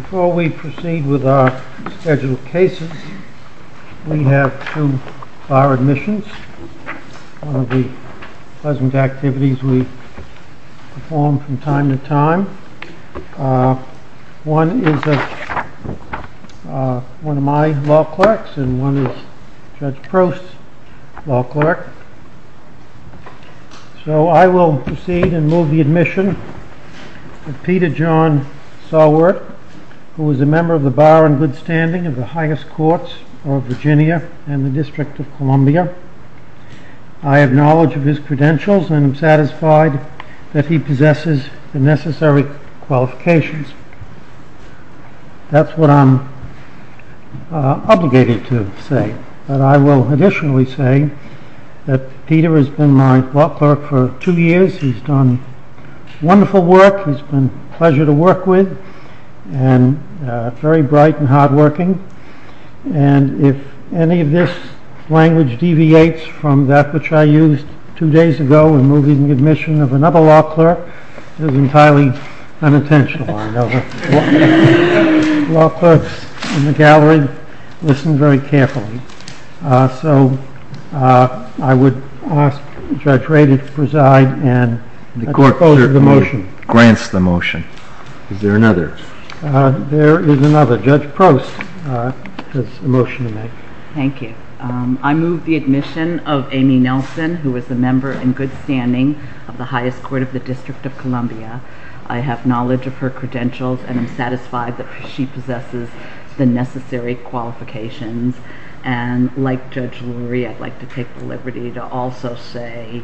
Before we proceed with our scheduled cases, we have two bar admissions, one of the pleasant to my law clerks and one of Judge Proust's law clerks. So I will proceed and move the admission of Peter John Sowert, who is a member of the bar in good standing of the highest courts of Virginia and the District of Columbia. I have knowledge of his credentials and am obligated to say that I will additionally say that Peter has been my law clerk for two years. He's done wonderful work. He's been a pleasure to work with and very bright and hardworking. And if any of this language deviates from that which I used two days ago in moving the admission of another law clerk, it is entirely unintentional. I know the law clerks in the gallery listen very carefully. So I would ask Judge Rady to preside and to propose the motion. The court grants the motion. Is there another? There is another. Judge Proust has a motion to make. Thank you. I move the admission of Amy Nelson, who is a member in good standing of the highest court of the District of Columbia. I have knowledge of her credentials and am satisfied that she possesses the necessary qualifications. And like Judge Lurie, I'd like to take the liberty to also say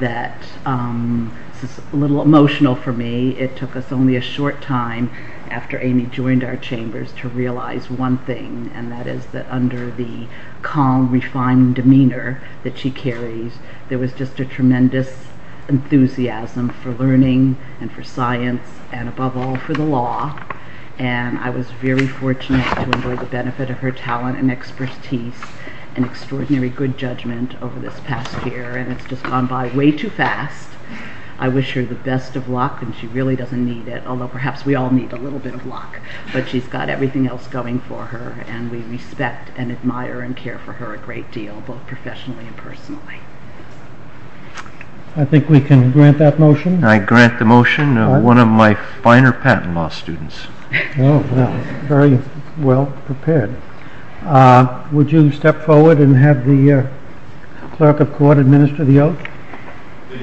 that this is a little emotional for me. It took us only a short time after Amy joined our chambers to realize one thing, and that is that under the calm, refined demeanor that she carries, there was just a tremendous enthusiasm for learning and for science and, above all, for the law. And I was very fortunate to enjoy the benefit of her talent and expertise and extraordinary good judgment over this past year. And it's just gone by way too fast. I wish her the best of luck, and she really doesn't need it, although perhaps we all need a little bit of luck. But she's got everything else going for her, and we respect and admire and care for her a great deal, both professionally and personally. I think we can grant that motion. I grant the motion of one of my finer patent law students. Very well prepared. Would you step forward Would you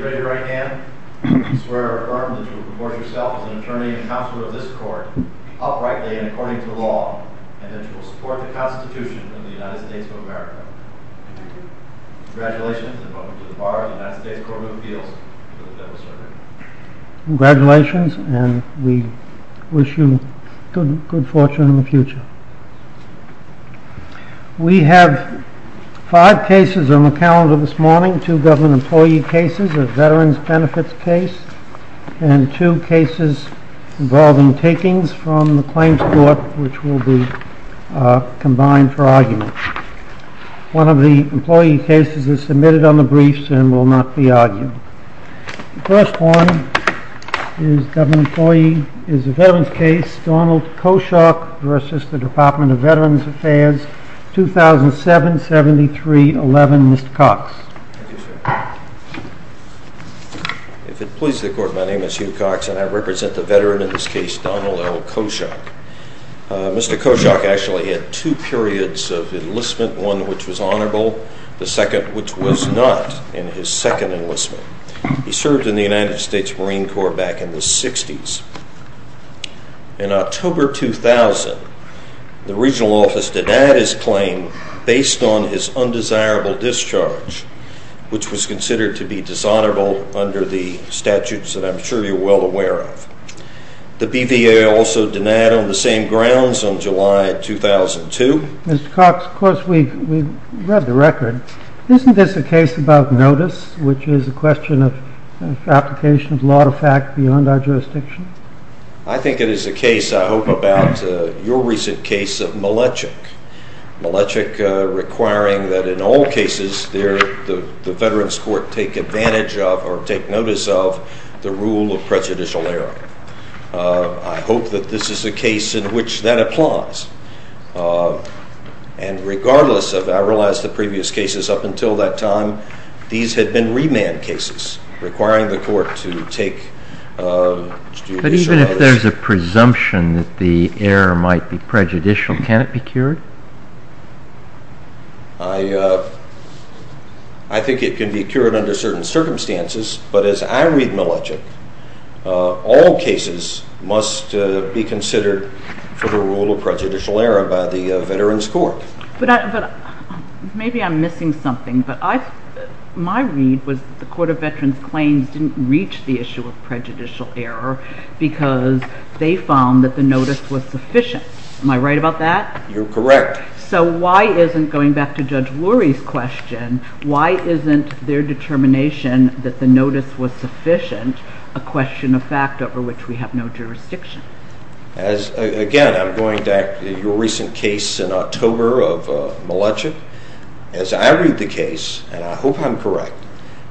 raise your right hand and swear or affirm that you will propose yourself as an attorney and counselor of this court, uprightly and according to the law, and that you will support the Constitution of the United States of America. I do. Congratulations, and welcome to the bar of the United States Court of Appeals. You may have a certificate. Congratulations, and we wish you good fortune in the future. We have five cases on the calendar this morning, two government employee cases, a veterans benefits case, and two cases involving takings from the claims court, which will be combined for argument. One of the employee cases is submitted on the briefs and will not be argued. The first one is a veterans case, Donald Koschok v. Department of Veterans Affairs, 2007-73-11. Mr. Koschok. If it pleases the court, my name is Hugh Koschok, and I represent the veteran in this case, Donald L. Koschok. Mr. Koschok actually had two periods of enlistment, one which was honorable, the second which was not in his second enlistment. He served in the United States Marine Corps back in the 60s. In October 2000, the regional office denied his claim based on his undesirable discharge, which was considered to be dishonorable under the statutes that I'm sure you're well aware of. The BVA also denied on the same grounds on July 2002. Mr. Koschok, of course we've read the record. Isn't this a case about notice, which is a question of application of law-to-fact beyond our jurisdiction? I think it is a case, I hope, about your recent case of Melechuk, Melechuk requiring that in all cases there the veterans court take advantage of or take notice of the rule of prejudicial error. I hope that this is a case in which that applies, and regardless of, I realize, the previous cases up until that time, these had been remand cases requiring the court to take... But even if there's a presumption that the error might be prejudicial, can it be cured? I think it can be cured under certain circumstances, but as I read Melechuk, all cases must be considered for the rule of prejudicial error by the veterans court. Maybe I'm missing something, but my read was the court of veterans claims didn't reach the issue of prejudicial error because they found that the notice was sufficient. Am I right about that? You're correct. So why isn't, going back to Judge Lurie's question, why isn't their determination that the notice was sufficient a question of fact over which we have no jurisdiction? Again, I'm going back to your recent case in October of Melechuk. As I read the case, and I hope I'm correct,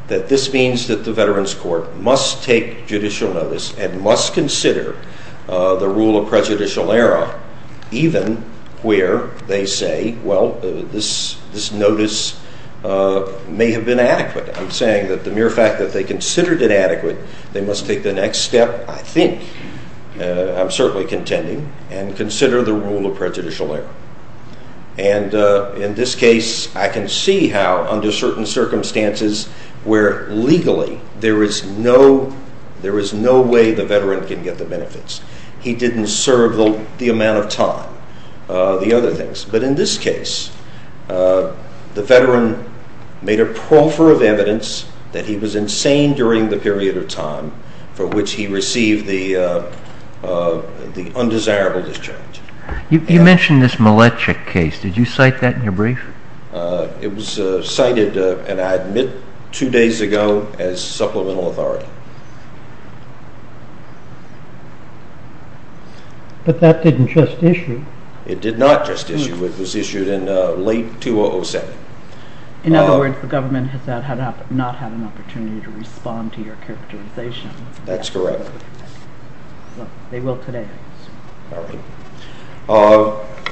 that this means that the veterans court must take judicial notice and must consider the rule of prejudicial error even where they say, well, this notice may have been adequate. I'm saying that the mere fact that they considered it adequate, they must take the next step, I think, I'm certainly contending, and consider the rule of prejudicial error. And in this case, I can see how under certain circumstances where legally there is no way the veteran can get the benefits. He didn't serve the amount of time, the other things. But in this case, the veteran made a proffer of evidence that he was insane during the period of time for which he received the undesirable discharge. You mentioned this Melechuk case. Did you cite that in your brief? It was cited, and I admit, two days ago as supplemental authority. But that didn't just issue. It did not just issue. It was issued in late 2007. In other words, the government has not had an opportunity to respond to your characterization. That's correct.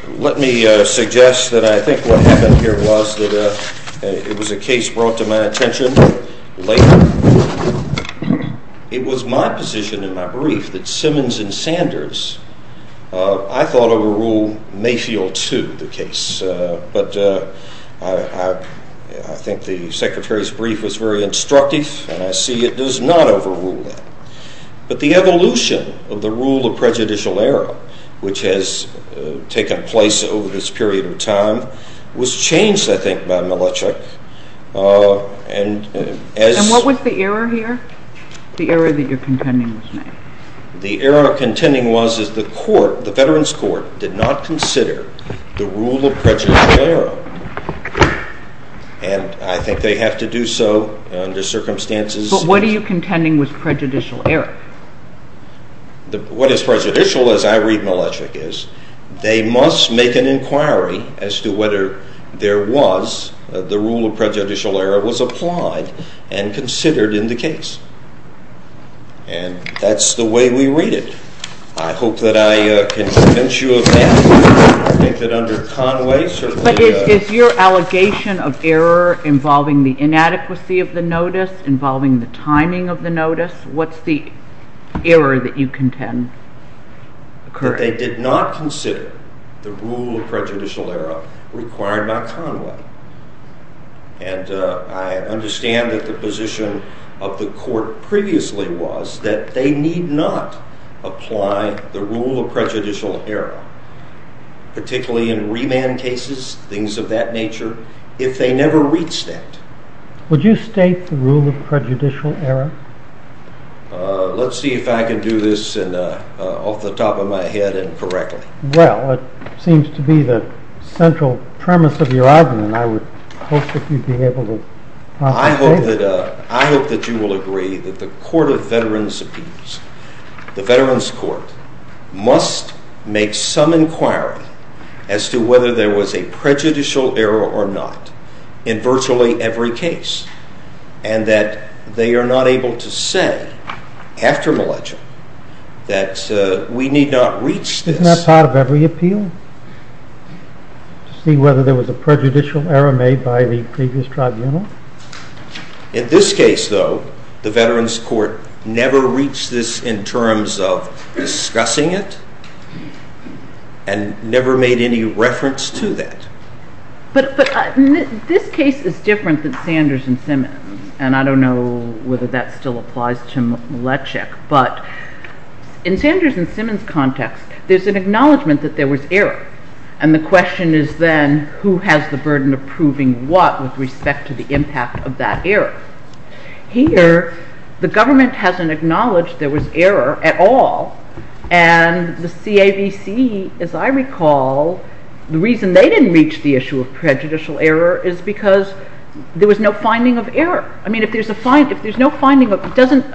Let me suggest that I think what happened here was that it was a case brought to my attention later. It was my position in my brief that Simmons and Sanders, I thought, overruled Mayfield 2, the case. But I think the Secretary's brief was very instructive, and I see it does not overrule that. But the evolution of the rule of prejudicial error, which has taken place over this period of time, was changed, I think, by Melechuk. And what was the error here, the error that you're contending was made? The error contending was that the court, the Veterans Court, did not consider the rule of prejudicial error. And I think they have to do so under circumstances. But what are you contending was prejudicial error? What is prejudicial, as I read Melechuk, is they must make an inquiry as to whether there was, the rule of prejudicial error was applied and considered in the case. And that's the way we read it. I hope that I can convince you of that. I think that under Conway, certainly... But is your allegation of error involving the inadequacy of the notice, involving the timing of the notice, what's the error that you contend? That they did not consider the rule of prejudicial error required by Conway. And I understand that the position of the court previously was that they need not apply the rule of prejudicial error, particularly in remand cases, things of that nature, if they never reach that. Would you state the rule of prejudicial error? Let's see if I can do this off the top of my head and correctly. Well, it seems to be the central premise of your argument. I would hope that you'd be able to... I hope that you will agree that the Court of Veterans' Appeals, the Veterans' Court, must make some inquiry as to whether there was a prejudicial error or not in virtually every case. And that they are not able to say, after Milledger, that we need not reach this... Isn't that part of every appeal? To see whether there was a prejudicial error made by the previous tribunal? In this case, though, the Veterans' Court never reached this in terms of discussing it and never made any reference to that. But this case is different than Sanders and Simmons, and I don't know whether that still applies to Milechek. But in Sanders and Simmons' context, there's an acknowledgment that there was error. And the question is then, who has the burden of proving what with respect to the impact of that error? Here, the government hasn't acknowledged there was error at all. And the CAVC, as I recall, the reason they didn't reach the issue of prejudicial error is because there was no finding of error. I mean, if there's no finding of... Doesn't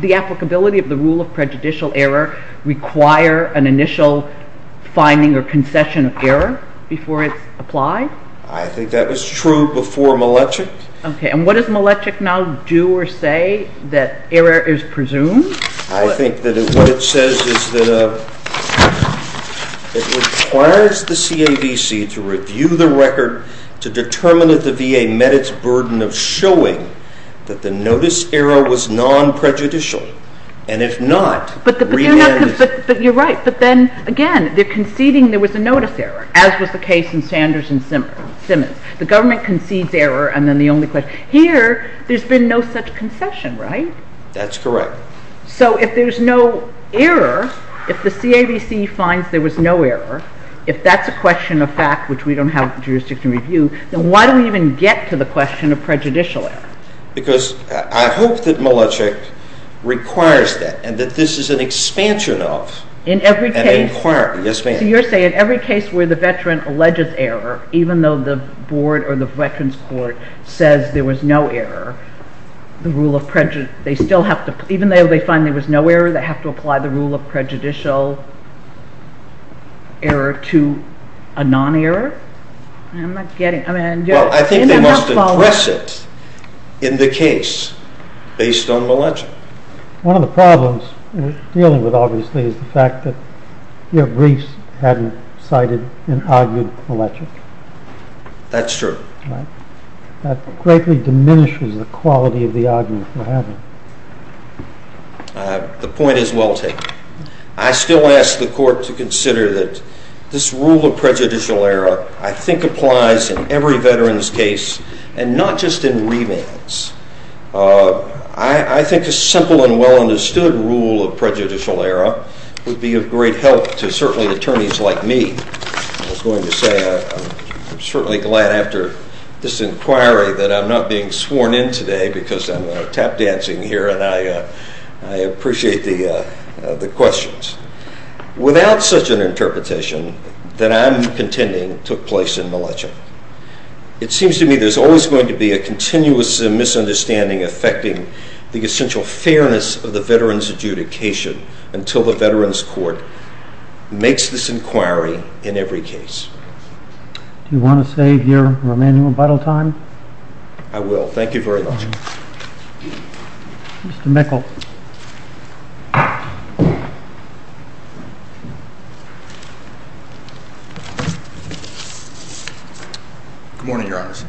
the applicability of the rule of prejudicial error require an initial finding or concession of error before it's applied? I think that was true before Milechek. Okay, and what does Milechek now do or say that error is presumed? I think that what it says is that it requires the CAVC to review the record to determine if the VA met its burden of showing that the notice error was non-prejudicial. And if not... But you're right, but then again, they're conceding there was a notice error, as was the case in Sanders and Simmons. The government concedes error, and then the only question... Here, there's been no such concession, right? That's correct. So if there's no error, if the CAVC finds there was no error, if that's a question of fact, which we don't have jurisdiction to review, then why do we even get to the question of prejudicial error? Because I hope that Milechek requires that, and that this is an expansion of an inquiry. Yes, ma'am. So you're saying in every case where the veteran alleges error, even though the board or the veterans court says there was no error, the rule of prejudice... They still have to... Even though they find there was no error, they have to apply the rule of prejudicial error to a non-error? I'm not getting... Well, I think they must address it in the case based on Milechek. One of the problems we're dealing with, obviously, is the fact that your briefs hadn't cited and argued Milechek. That's true. That greatly diminishes the quality of the argument we're having. The point is well taken. I still ask the court to consider that this rule of prejudicial error, I think, applies in every veteran's case, and not just in remands. I think a simple and well understood rule of prejudicial error would be of great help to, certainly, attorneys like me. I was going to say I'm certainly glad after this inquiry that I'm not being sworn in today because I'm tap dancing here and I appreciate the questions. Without such an interpretation that I'm contending took place in Milechek, it seems to me there's always going to be a continuous misunderstanding affecting the essential fairness of the veteran's adjudication until the veteran's court makes this inquiry in every case. Do you want to save your remaining rebuttal time? I will. Thank you very much. Mr. Mikkel. Good morning, your honors.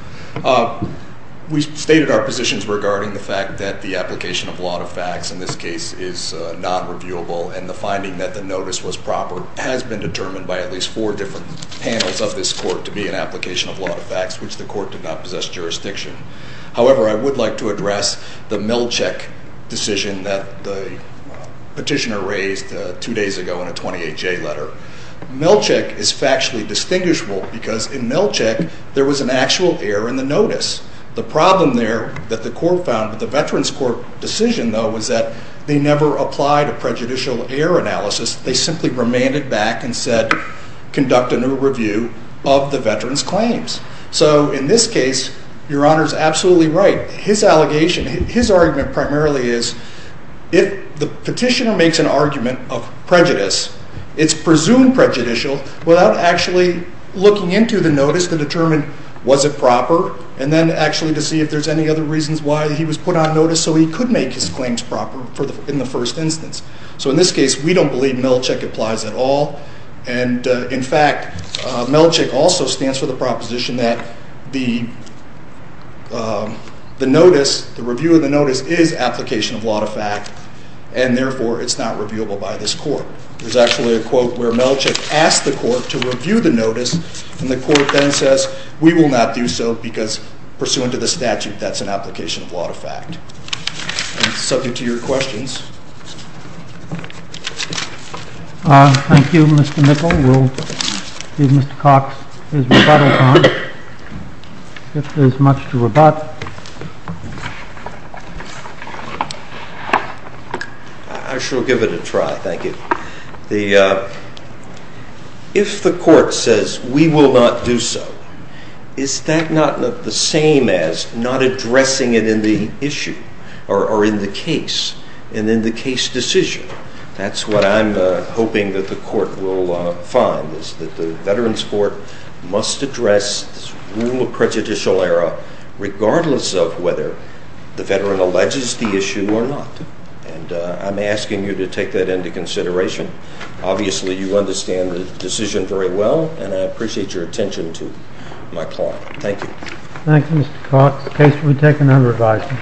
We stated our positions regarding the fact that the application of law to facts, in this case, is non-reviewable, and the finding that the notice was proper has been determined by at least four different panels of this court to be an application of law to facts, which the court did not possess jurisdiction. However, I would like to address the Milechek decision that the petitioner raised two days ago in a 28-J letter. Milechek is factually distinguishable because in Milechek there was an actual error in the notice. The problem there that the court found with the veteran's court decision, though, was that they never applied a prejudicial error analysis. They simply remanded back and said, conduct a new review of the veteran's claims. So in this case, your honor is absolutely right. His allegation, his argument primarily is, if the petitioner makes an argument of prejudice, it's presumed prejudicial without actually looking into the notice to determine was it proper, and then actually to see if there's any other reasons why he was put on notice so he could make his claims proper in the first instance. So in this case, we don't believe Milechek applies at all. And in fact, Milechek also stands for the proposition that the review of the notice is application of law to fact, and therefore it's not reviewable by this court. There's actually a quote where Milechek asked the court to review the notice, and the court then says, we will not do so because pursuant to the statute, that's an application of law to fact. I'm subject to your questions. Thank you, Mr. Mickel. We'll give Mr. Cox his rebuttal time if there's much to rebut. I shall give it a try. Thank you. If the court says, we will not do so, is that not the same as not addressing it in the issue or in the case and in the case decision? That's what I'm hoping that the court will find, is that the Veterans Court must address this rule of prejudicial error regardless of whether the veteran alleges the issue or not. And I'm asking you to take that into consideration. Obviously, you understand the decision very well, and I appreciate your attention to my client. Thank you. Thank you, Mr. Cox. The case will be taken under revising.